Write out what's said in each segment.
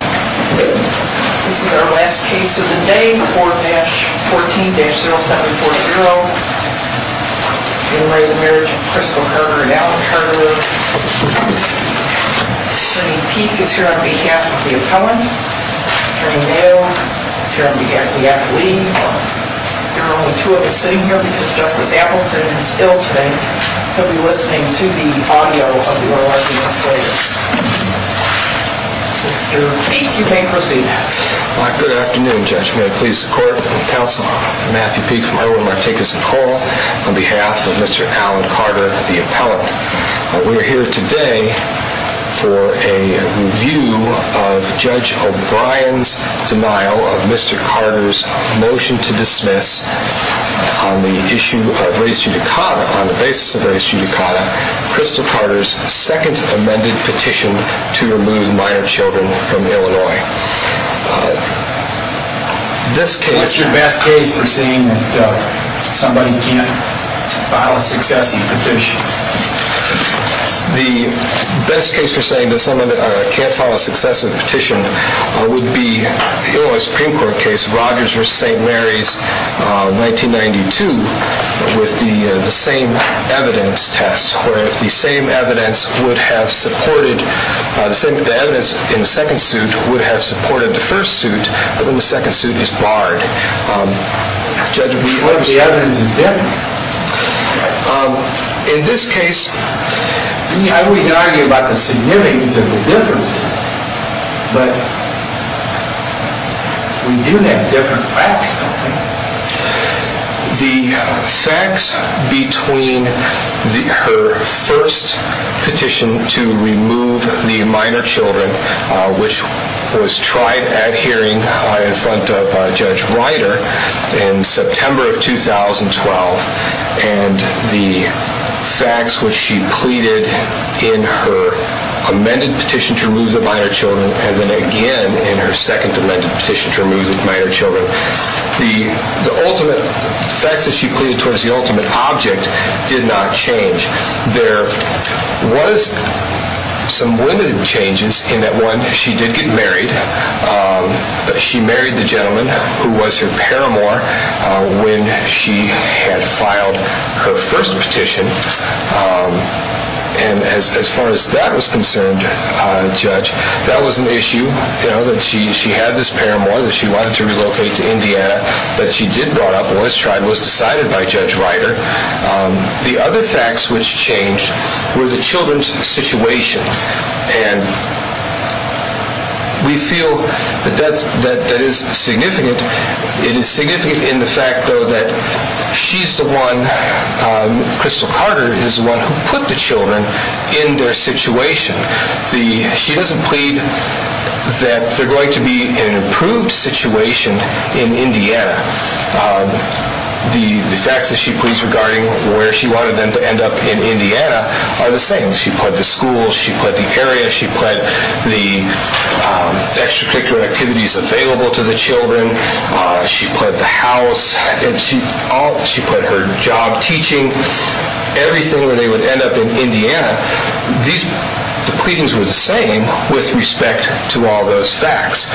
This is our last case of the day, 4-14-0740. In re Marriage of Crystal Carter and Alan Carter. Senator Pete is here on behalf of the appellant. Senator Mayo is here on behalf of the accolade. There are only two of us sitting here because Justice Appleton is ill today. He'll be listening to the audio of the oral arguments later. Mr. Pete, you may proceed. Good afternoon, Judge. May I please the court and counsel Matthew Pete from Irwin. I take this call on behalf of Mr. Alan Carter, the appellant. We are here today for a review of Judge O'Brien's denial of Mr. Carter's motion to dismiss on the issue of race judicata, on the basis of race judicata, Crystal Carter's second amended petition to remove minor children from Illinois. What's your best case for saying that somebody can't file a successive petition? The best case for saying that someone can't file a successive petition would be Rogers v. St. Mary's, 1992, with the same evidence test, where the evidence in the second suit would have supported the first suit, but then the second suit is barred. The evidence is different. In this case, I wouldn't argue about the significance of the difference, but we do have different facts, don't we? The facts between her first petition to remove the minor children, which was tried at hearing in front of Judge Ryder in September of 2012, and the facts which she pleaded in her amended petition to remove the minor children, and then again in her second amended petition to remove the minor children, the ultimate facts that she pleaded towards the ultimate object did not change. There was some limited changes in that one. She did get married. She married the gentleman who was her paramour when she had filed her first petition, and as far as that was concerned, Judge, that was an issue. She had this paramour that she wanted to relocate to Indiana, but she did brought up what was decided by Judge Ryder. The other facts which changed were the children's situation, and we feel that that is significant. It is significant in the fact, though, that she's the one, Crystal Carter is the one who put the children in their situation. She doesn't plead that they're going to be in an improved situation in Indiana. The facts that she pleads regarding where she wanted them to end up in Indiana are the same. She pled the schools. She pled the area. She pled the extracurricular activities available to the children. She pled the house. She pled her job, teaching, everything where they would end up in Indiana. The pleadings were the same with respect to all those facts.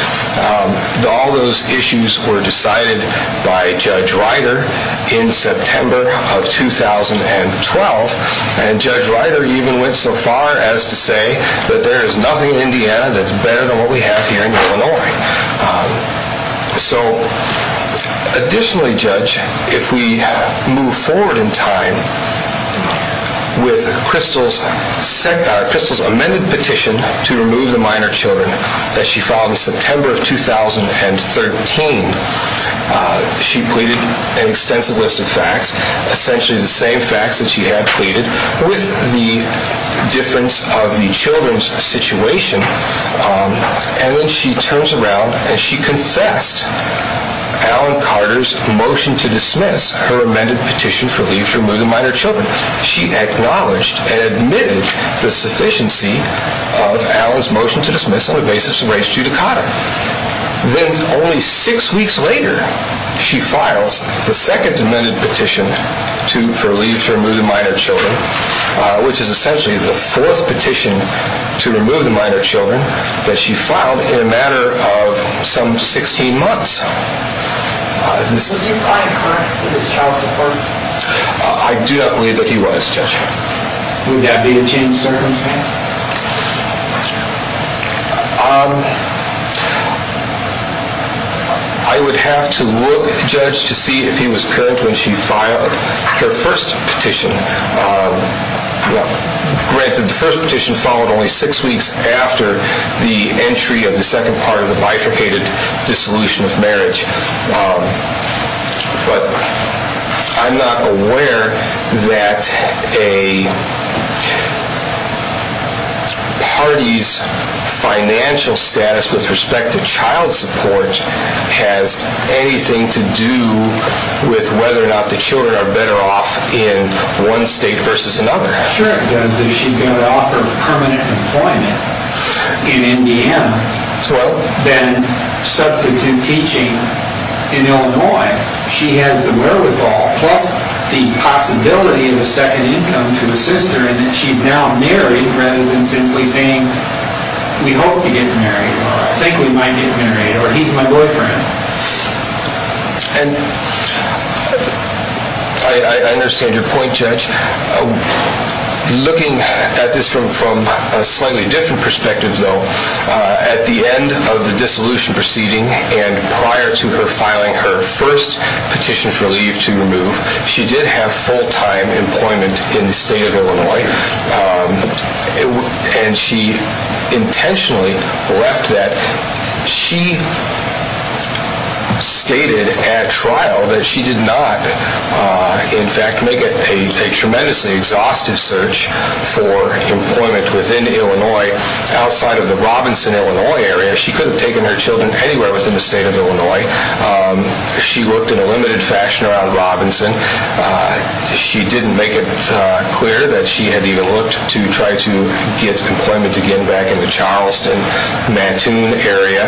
All those issues were decided by Judge Ryder in September of 2012, and Judge Ryder even went so far as to say that there is nothing in Indiana that's better than what we have here in Illinois. Additionally, Judge, if we move forward in time with Crystal's amended petition to remove the minor children that she filed in September of 2013, she pleaded an extensive list of facts, essentially the same facts that she had pleaded with the difference of the children's situation, and then she turns around and she confessed Alan Carter's motion to dismiss her amended petition for leave to remove the minor children. She acknowledged and admitted the sufficiency of Alan's motion to dismiss on the basis of race due to Carter. Then only six weeks later, she files the second amended petition for leave to remove the minor children, which is essentially the fourth petition to remove the minor children that she filed in a matter of some 16 months. Was your client correct in his child support? I do not believe that he was, Judge. Would that be a changed circumstance? I would have to look at the judge to see if he was correct when she filed her first petition. Granted, the first petition followed only six weeks after the entry of the second part of the bifurcated dissolution of marriage, but I'm not aware that a party's financial status with respect to child support has anything to do with whether or not the children are better off in one state versus another. If she's got to offer permanent employment in Indiana, then substitute teaching in Illinois, she has the wherewithal plus the possibility of a second income to assist her in that she's now married rather than simply saying, we hope to get married, or I think we might get married, or he's my boyfriend. I understand your point, Judge. Looking at this from a slightly different perspective, though, at the end of the dissolution proceeding and prior to her filing her first petition for leave to remove, she did have full-time employment in the state of Illinois, and she intentionally left that. She stated at trial that she did not, in fact, make a tremendously exhaustive search for employment within Illinois outside of the Robinson, Illinois area. She could have taken her children anywhere within the state of Illinois. She worked in a limited fashion around Robinson. She didn't make it clear that she had even looked to try to get employment again back in the Charleston, Mattoon area.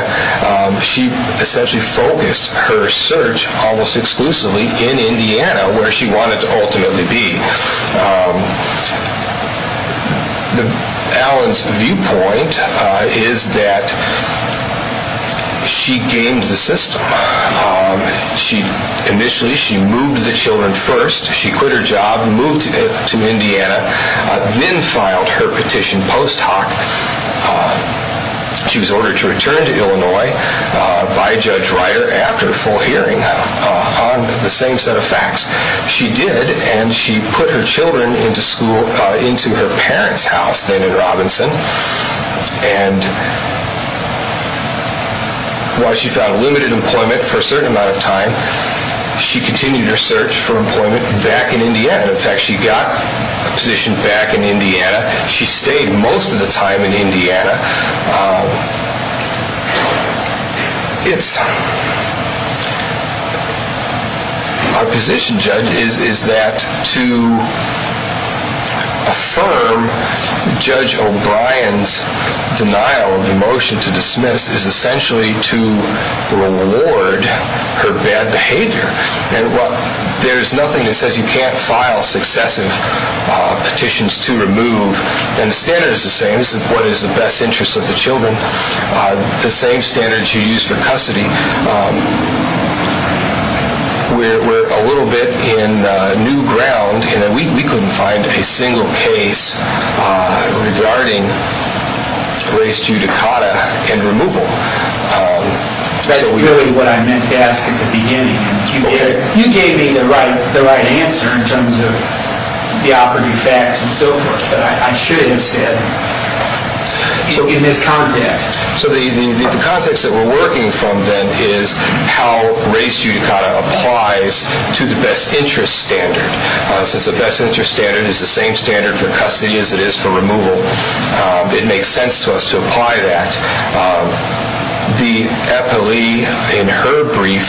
She essentially focused her search almost exclusively in Indiana, where she wanted to ultimately be. Allen's viewpoint is that she games the system. Initially, she moved the children first. She quit her job, moved to Indiana, then filed her petition post hoc. She was ordered to return to Illinois by Judge Reiter after a full hearing on the same set of facts. She did, and she put her children into her parents' house then in Robinson. And while she found limited employment for a certain amount of time, she continued her search for employment back in Indiana. In fact, she got a position back in Indiana. She stayed most of the time in Indiana. Our position, Judge, is that to affirm Judge O'Brien's denial of the motion to dismiss is essentially to reward her bad behavior. There is nothing that says you can't file successive petitions to remove. And the standard is the same as what is in the best interest of the children. The same standards you use for custody. We're a little bit in new ground in that we couldn't find a single case regarding race judicata and removal. That's really what I meant to ask at the beginning. You gave me the right answer in terms of the operative facts and so forth. But I should have said in this context. So the context that we're working from then is how race judicata applies to the best interest standard. Since the best interest standard is the same standard for custody as it is for removal, it makes sense to us to apply that. The epilee in her brief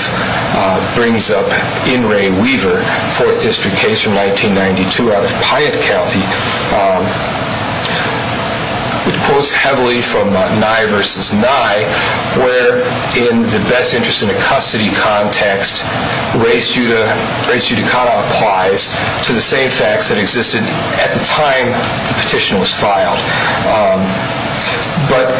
brings up In re Weaver, fourth district case from 1992 out of Piatt County. It quotes heavily from Nye versus Nye, where in the best interest in the custody context, race judicata applies to the same facts that existed at the time the petition was filed. But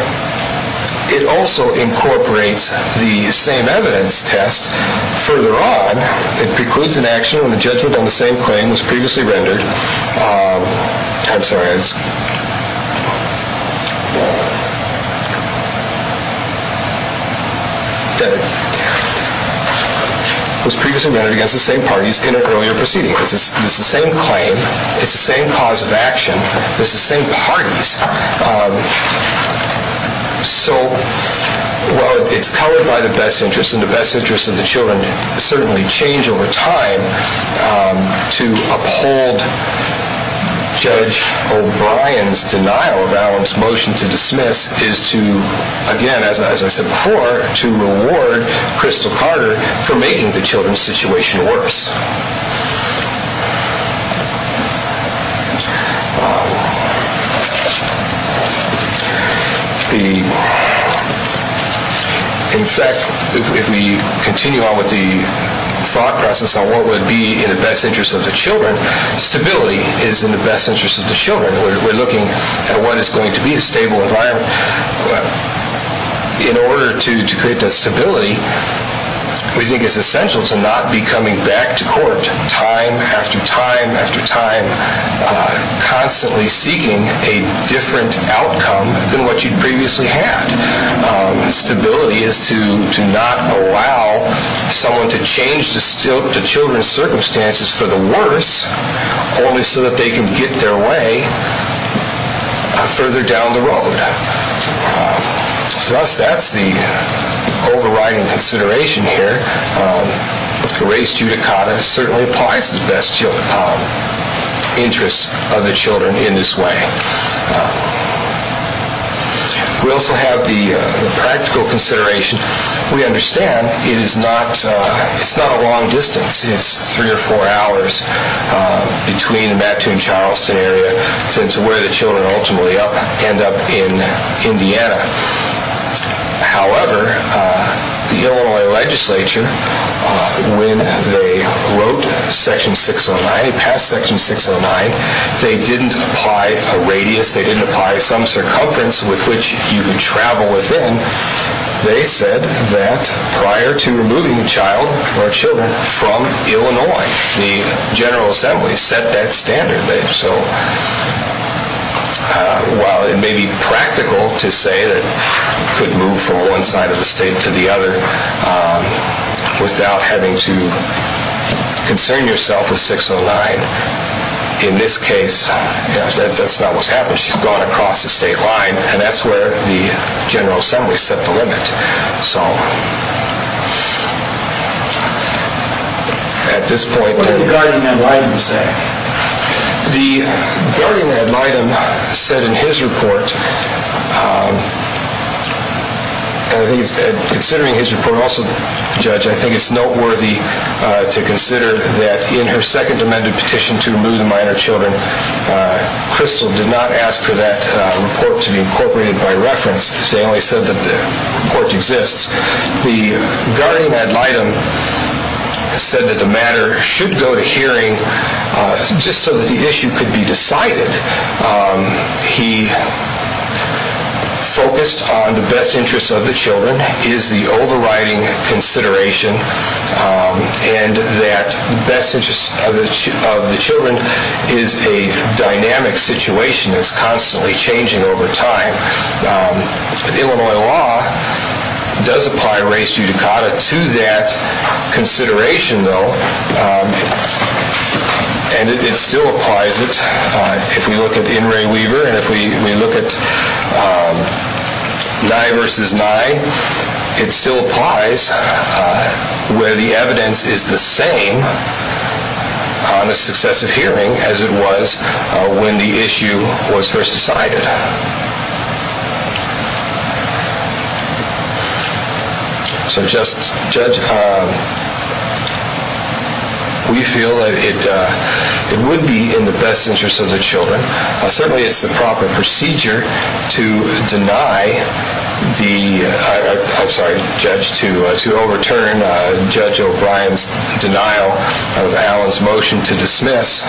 it also incorporates the same evidence test. Further on, it precludes an action when a judgment on the same claim was previously rendered against the same parties in an earlier proceeding. It's the same claim. It's the same parties. So while it's covered by the best interest and the best interest of the children certainly change over time, to uphold Judge O'Brien's denial of Allen's motion to dismiss is to, again, as I said before, to reward Crystal Carter for making the children's situation worse. In fact, if we continue on with the thought process on what would be in the best interest of the children, stability is in the best interest of the children. We're looking at what is going to be a stable environment. In order to create that stability, we think it's essential to not be coming back to court time after time after time constantly seeking a different outcome than what you previously had. Stability is to not allow someone to change the children's circumstances for the worse only so that they can get their way further down the road. Thus, that's the overriding consideration here. The race judicata certainly applies to the best interest of the children in this way. We also have the practical consideration. We understand it's not a long distance. It's three or four hours between the Mattoon-Charleston area to where the children ultimately end up in Indiana. However, the Illinois legislature, when they wrote Section 609, passed Section 609, they didn't apply a radius. They didn't apply some circumference with which you could travel within. They said that prior to removing a child or children from Illinois, the General Assembly set that standard. While it may be practical to say that you could move from one side of the state to the other without having to concern yourself with 609, in this case, that's not what's happened. She's gone across the state line, and that's where the General Assembly set the limit. At this point... What did the guardian ad litem say? The guardian ad litem said in his report, and considering his report also, Judge, I think it's noteworthy to consider that in her second amended petition to remove the minor children, Crystal did not ask for that report to be incorporated by reference. She only said that the report exists. The guardian ad litem said that the matter should go to hearing just so that the issue could be decided. He focused on the best interest of the children is the overriding consideration, and that the best interest of the children is a dynamic situation that's constantly changing over time. Illinois law does apply race judicata to that consideration, though, and it still applies it. If we look at In re Weaver, and if we look at Nye v. Nye, it still applies where the evidence is the same on a successive hearing as it was when the issue was first decided. So, Judge, we feel that it would be in the best interest of the children. Certainly, it's the proper procedure to overturn Judge O'Brien's denial of Allen's motion to dismiss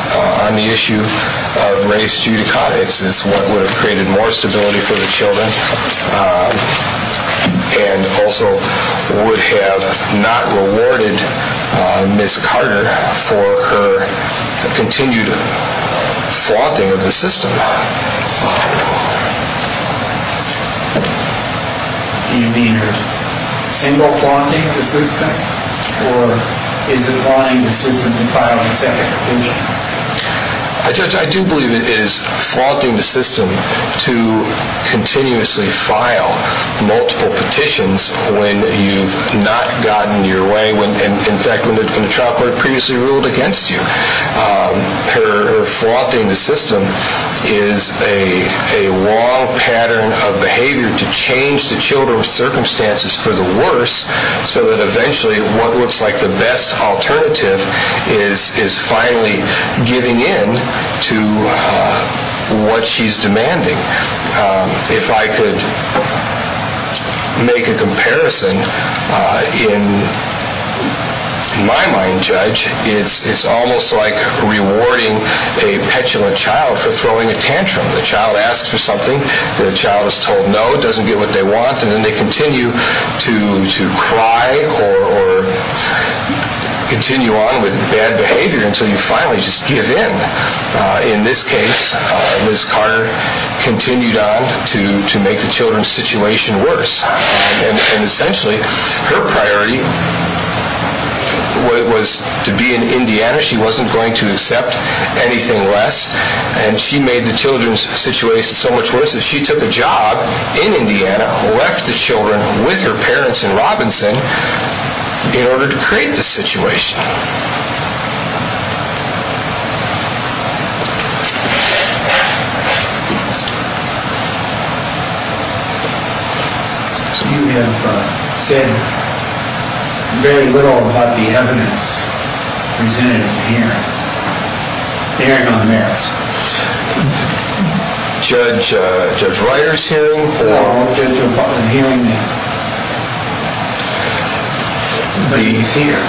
on the issue of race judicata. It's what would have created more stability for the children and also would have not rewarded Ms. Carter for her continued flaunting of the system. Do you mean her single flaunting of the system, or is it flaunting the system in filing a second petition? Judge, I do believe it is flaunting the system to continuously file multiple petitions when you've not gotten your way, in fact, when the trial court previously ruled against you. Her flaunting the system is a wrong pattern of behavior to change the children's circumstances for the worse so that eventually what looks like the best alternative is finally giving in to what she's demanding. If I could make a comparison, in my mind, Judge, it's almost like rewarding a petulant child for throwing a tantrum. The child asks for something, the child is told no, doesn't get what they want, and then they continue to cry or continue on with bad behavior until you finally just give in. In this case, Ms. Carter continued on to make the children's situation worse, and essentially her priority was to be in Indiana. She wasn't going to accept anything less, and she made the children's situation so much worse that she took a job in Indiana, left the children with her parents in Robinson, in order to create this situation. You have said very little about the evidence presented in the hearing, bearing on merits. Judge Reiter's hearing? No, Judge O'Connor's hearing, but he's here.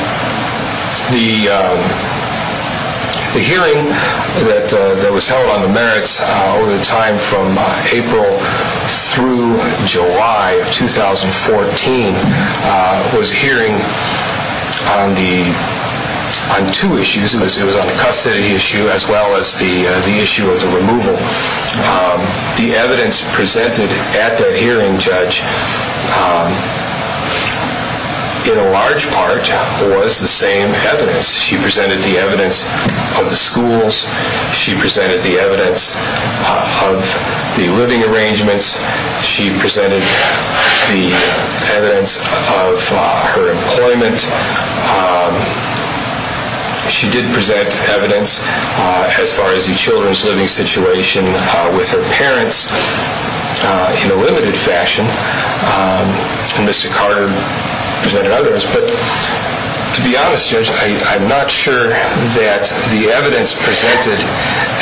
The hearing that was held on the merits over the time from April through July of 2014 was a hearing on two issues. It was on the custody issue as well as the issue of the removal. The evidence presented at that hearing, Judge, in a large part was the same evidence. She presented the evidence of the schools, she presented the evidence of the living arrangements, she presented the evidence of her employment. She did present evidence as far as the children's living situation with her parents in a limited fashion, and Mr. Carter presented others. But to be honest, Judge, I'm not sure that the evidence presented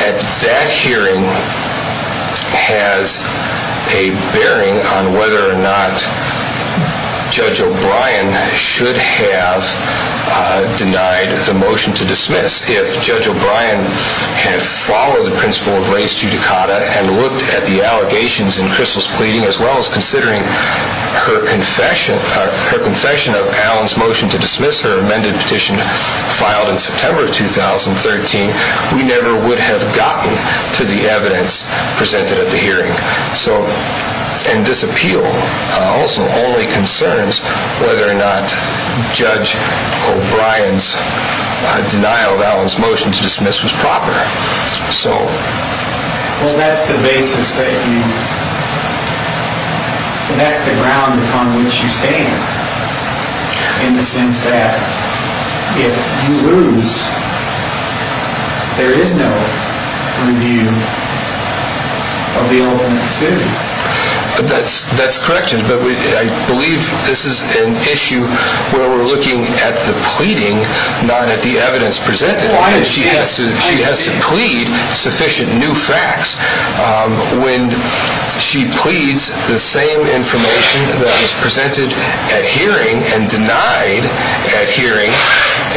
at that hearing has a bearing on whether or not Judge O'Brien should have denied the motion to dismiss. If Judge O'Brien had followed the principle of res judicata and looked at the allegations in Crystal's pleading, as well as considering her confession of Alan's motion to dismiss her amended petition filed in September of 2013, we never would have gotten to the evidence presented at the hearing. And this appeal also only concerns whether or not Judge O'Brien's denial of Alan's motion to dismiss was proper. Well, that's the basis that you, that's the ground upon which you stand in the sense that if you lose, there is no review of the ultimate decision. That's correct, Judge, but I believe this is an issue where we're looking at the pleading, not at the evidence presented. She has to plead sufficient new facts. When she pleads the same information that was presented at hearing and denied at hearing,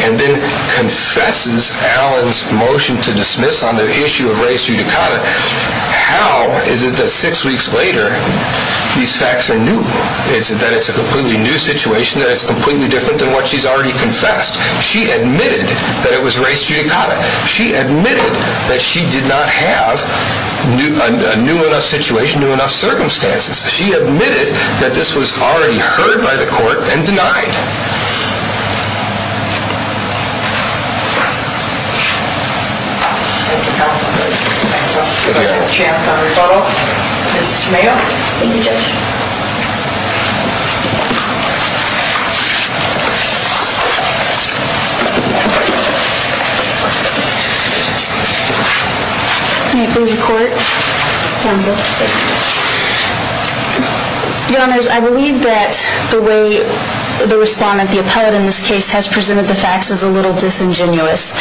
and then confesses Alan's motion to dismiss on the issue of res judicata, how is it that six weeks later these facts are new? Is it that it's a completely new situation, that it's completely different than what she's already confessed? She admitted that it was res judicata. She admitted that she did not have a new enough situation, new enough circumstances. She admitted that this was already heard by the court and denied. Thank you, counsel. We have a chance on rebuttal. Ms. Smale. Thank you, Judge. Your Honor, I believe that the way the respondent, the appellate in this case, has presented the facts is a little disingenuous.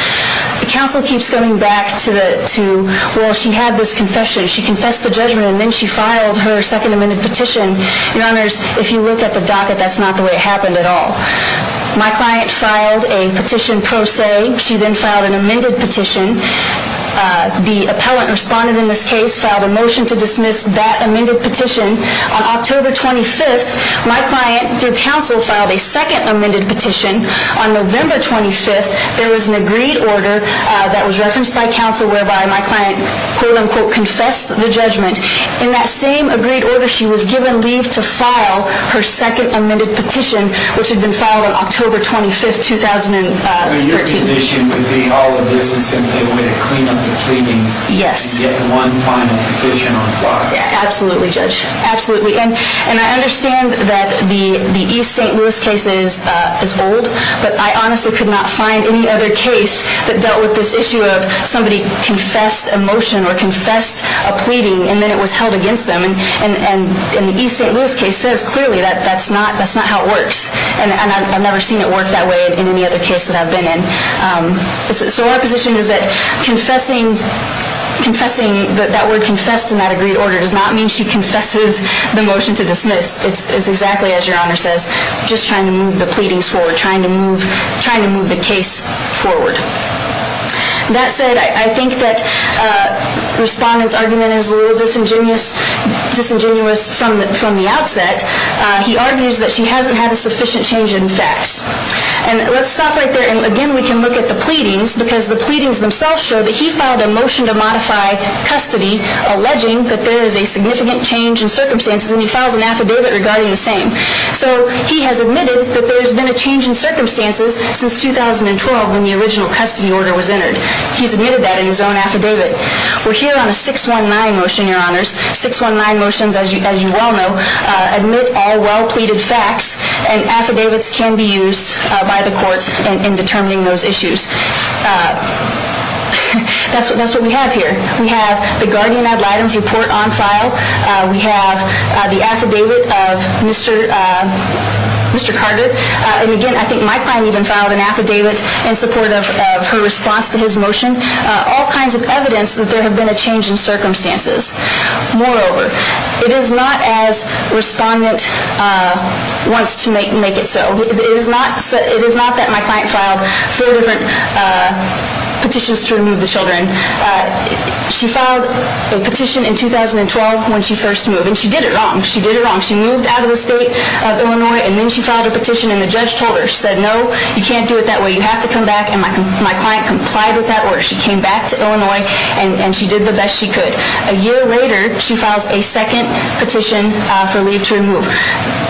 The counsel keeps coming back to, well, she had this confession. She confessed the judgment, and then she filed her Second Amendment petition. Your Honor, if you look at the docket, that's not the way it happened at all. My client filed a petition pro se. She then filed an amended petition. The appellate respondent in this case filed a motion to dismiss that amended petition. On October 25th, my client, through counsel, filed a second amended petition. On November 25th, there was an agreed order that was referenced by counsel whereby my client, quote, unquote, confessed the judgment. In that same agreed order, she was given leave to file her second amended petition, which had been filed on October 25th, 2013. Your condition would be all of this is simply a way to clean up the pleadings and get one final petition on file. Absolutely, Judge. Absolutely. And I understand that the East St. Louis case is old, but I honestly could not find any other case that dealt with this issue of somebody confessed a motion or confessed a pleading, and then it was held against them. And the East St. Louis case says clearly that that's not how it works, and I've never seen it work that way in any other case that I've been in. So our position is that that word confessed in that agreed order does not mean she confesses the motion to dismiss. It's exactly as Your Honor says, just trying to move the pleadings forward, trying to move the case forward. That said, I think that the respondent's argument is a little disingenuous from the outset. He argues that she hasn't had a sufficient change in facts. And let's stop right there, and again we can look at the pleadings, because the pleadings themselves show that he filed a motion to modify custody, alleging that there is a significant change in circumstances, and he files an affidavit regarding the same. So he has admitted that there has been a change in circumstances since 2012 when the original custody order was entered. He's admitted that in his own affidavit. We're here on a 619 motion, Your Honors. 619 motions, as you well know, admit all well-pleaded facts, and affidavits can be used by the courts in determining those issues. That's what we have here. We have the guardian ad litem's report on file. We have the affidavit of Mr. Carter. And again, I think my client even filed an affidavit in support of her response to his motion, all kinds of evidence that there have been a change in circumstances. Moreover, it is not as respondent wants to make it so. It is not that my client filed four different petitions to remove the children. She filed a petition in 2012 when she first moved, and she did it wrong. She did it wrong. She moved out of the state of Illinois, and then she filed a petition, and the judge told her, she said, no, you can't do it that way. You have to come back, and my client complied with that order. She came back to Illinois, and she did the best she could. A year later, she files a second petition for leave to remove.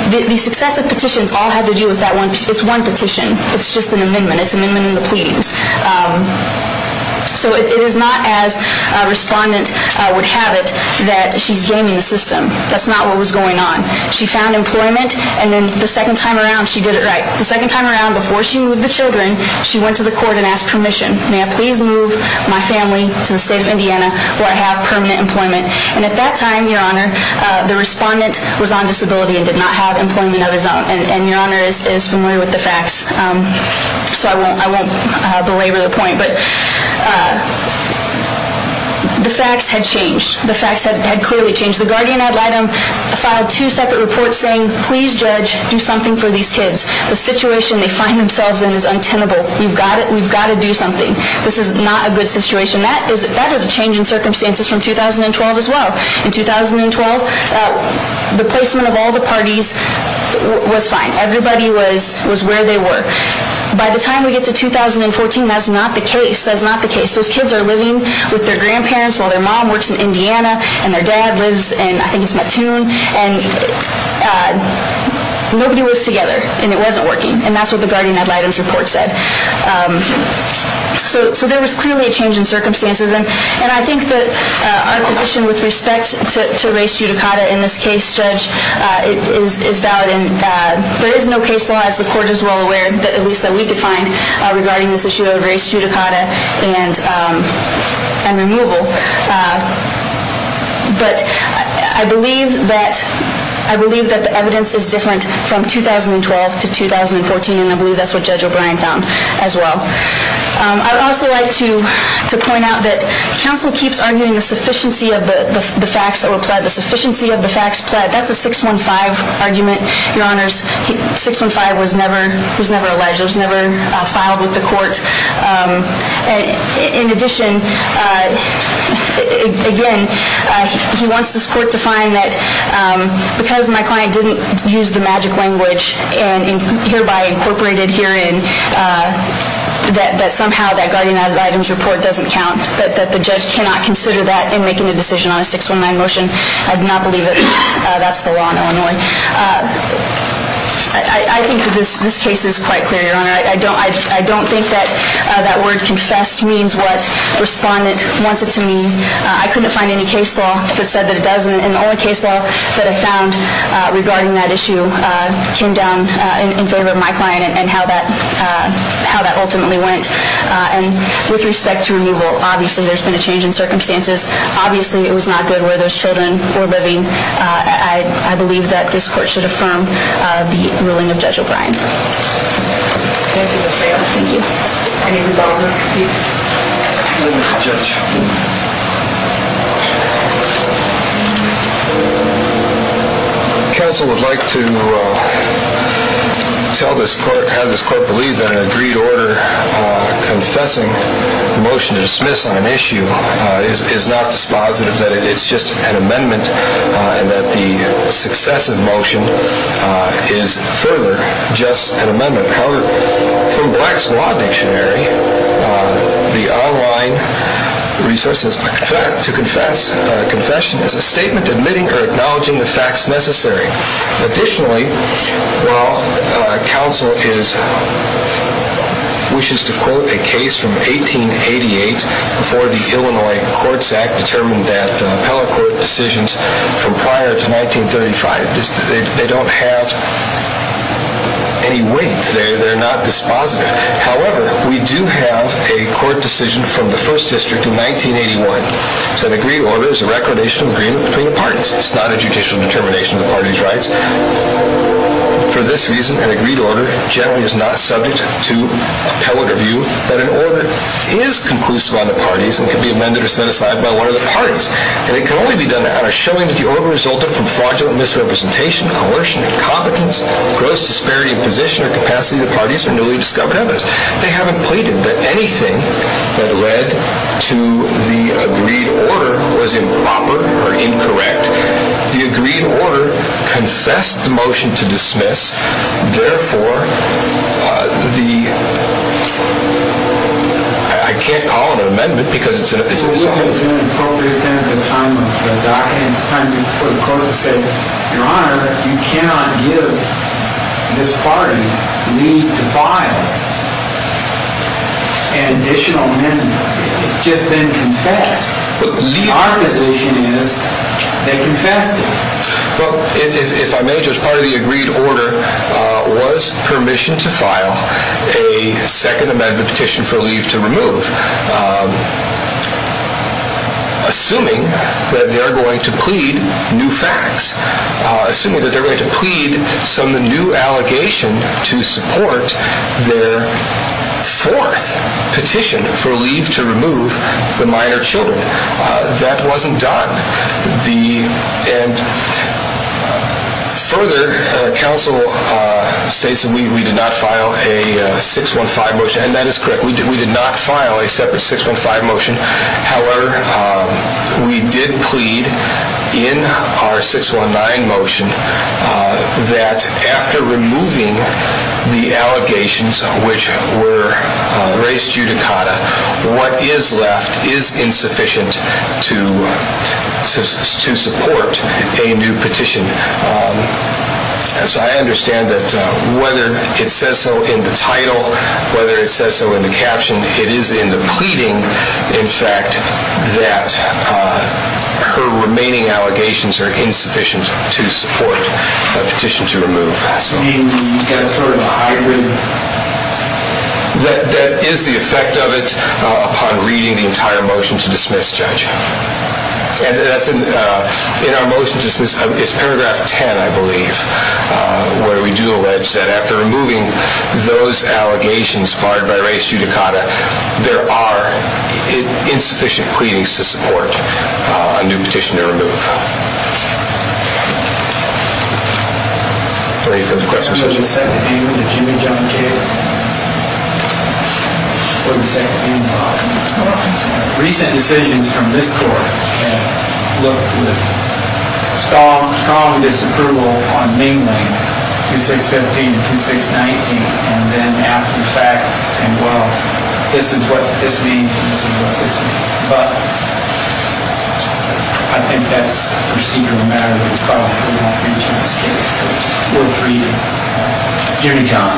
The successive petitions all have to do with that one. It's one petition. It's just an amendment. It's an amendment in the pleadings. So it is not as a respondent would have it that she's gaming the system. That's not what was going on. She found employment, and then the second time around, she did it right. The second time around, before she moved the children, she went to the court and asked permission. May I please move my family to the state of Indiana where I have permanent employment? And at that time, Your Honor, the respondent was on disability and did not have employment of his own. And Your Honor is familiar with the facts, so I won't belabor the point. But the facts had changed. The facts had clearly changed. The guardian ad litem filed two separate reports saying, please, judge, do something for these kids. The situation they find themselves in is untenable. We've got to do something. This is not a good situation. That is a change in circumstances from 2012 as well. In 2012, the placement of all the parties was fine. Everybody was where they were. By the time we get to 2014, that's not the case. That's not the case. Those kids are living with their grandparents while their mom works in Indiana, and their dad lives in, I think it's Mattoon, and nobody was together, and it wasn't working. And that's what the guardian ad litem's report said. So there was clearly a change in circumstances, and I think that our position with respect to race judicata in this case, judge, is valid. There is no case that has the court as well aware, at least that we could find, regarding this issue of race judicata and removal. But I believe that the evidence is different from 2012 to 2014, and I believe that's what Judge O'Brien found as well. I would also like to point out that counsel keeps arguing the sufficiency of the facts that were pled. The sufficiency of the facts pled. That's a 615 argument, Your Honors. 615 was never alleged. It was never filed with the court. In addition, again, he wants this court to find that because my client didn't use the magic language, and hereby incorporated herein, that somehow that guardian ad litem's report doesn't count. That the judge cannot consider that in making a decision on a 619 motion. I do not believe that that's the law in Illinois. I think that this case is quite clear, Your Honor. I don't think that that word confessed means what respondent wants it to mean. I couldn't find any case law that said that it doesn't, and the only case law that I found regarding that issue came down in favor of my client and how that ultimately went. And with respect to removal, obviously there's been a change in circumstances. Obviously it was not good where those children were living. Thank you. Counsel would like to have this court believe that an agreed order confessing the motion to dismiss on an issue is not dispositive, that it's just an amendment, and that the successive motion is further just an amendment. However, from Black's Law Dictionary, the online resources to confess a confession is a statement admitting or acknowledging the facts necessary. Additionally, while counsel wishes to quote a case from 1888 before the Illinois Courts Act determined that appellate court decisions from prior to 1935, they don't have any weight. They're not dispositive. However, we do have a court decision from the First District in 1981. It's an agreed order. It's a recordation agreement between the parties. It's not a judicial determination of the parties' rights. For this reason, an agreed order generally is not subject to appellate review, but an order is conclusive on the parties and can be amended or set aside by one of the parties. And it can only be done out of showing that the order resulted from fraudulent misrepresentation, coercion, incompetence, gross disparity of position or capacity of the parties, or newly discovered evidence. They haven't pleaded that anything that led to the agreed order was improper or incorrect. The agreed order confessed the motion to dismiss. Therefore, the... I can't call it an amendment because it's an amendment. It's an appropriate thing at the time for the court to say, Your Honor, you cannot give this party leave to file an additional amendment. It's just been confessed. Our position is they confessed it. If I may, as part of the agreed order, was permission to file a second amendment petition for leave to remove. Assuming that they're going to plead new facts. Assuming that they're going to plead some new allegation to support their fourth petition for leave to remove the minor children. That wasn't done. And further, counsel states that we did not file a 615 motion. And that is correct. We did not file a separate 615 motion. However, we did plead in our 619 motion that after removing the allegations which were raised judicata, what is left is insufficient to support a new petition. So I understand that whether it says so in the title, whether it says so in the caption, it is in the pleading, in fact, that her remaining allegations are insufficient to support a petition to remove. You mean the inferred hybrid? That is the effect of it upon reading the entire motion to dismiss, Judge. And in our motion to dismiss, it's paragraph 10, I believe, where we do allege that after removing those allegations barred by raised judicata, there are insufficient pleadings to support a new petition to remove. Any further questions? Mr. Judge, the second amendment, the Jimmy Jung case, or the second amendment? Recent decisions from this court have looked with strong disapproval on mainly 2615 and 2619, and then after the fact saying, well, this is what this means and this is what this means. But I think that's a procedural matter that we call for in that free chance case. We're free. Jimmy Jung.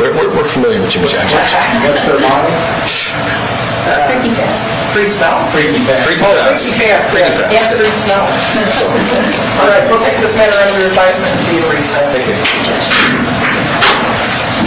We're familiar with Jimmy Jung's case. That's their model? Freaky fast. Free smell. Freaky fast. Well, freaky fast. And free smell. All right, we'll take this matter under advisement to be a free case.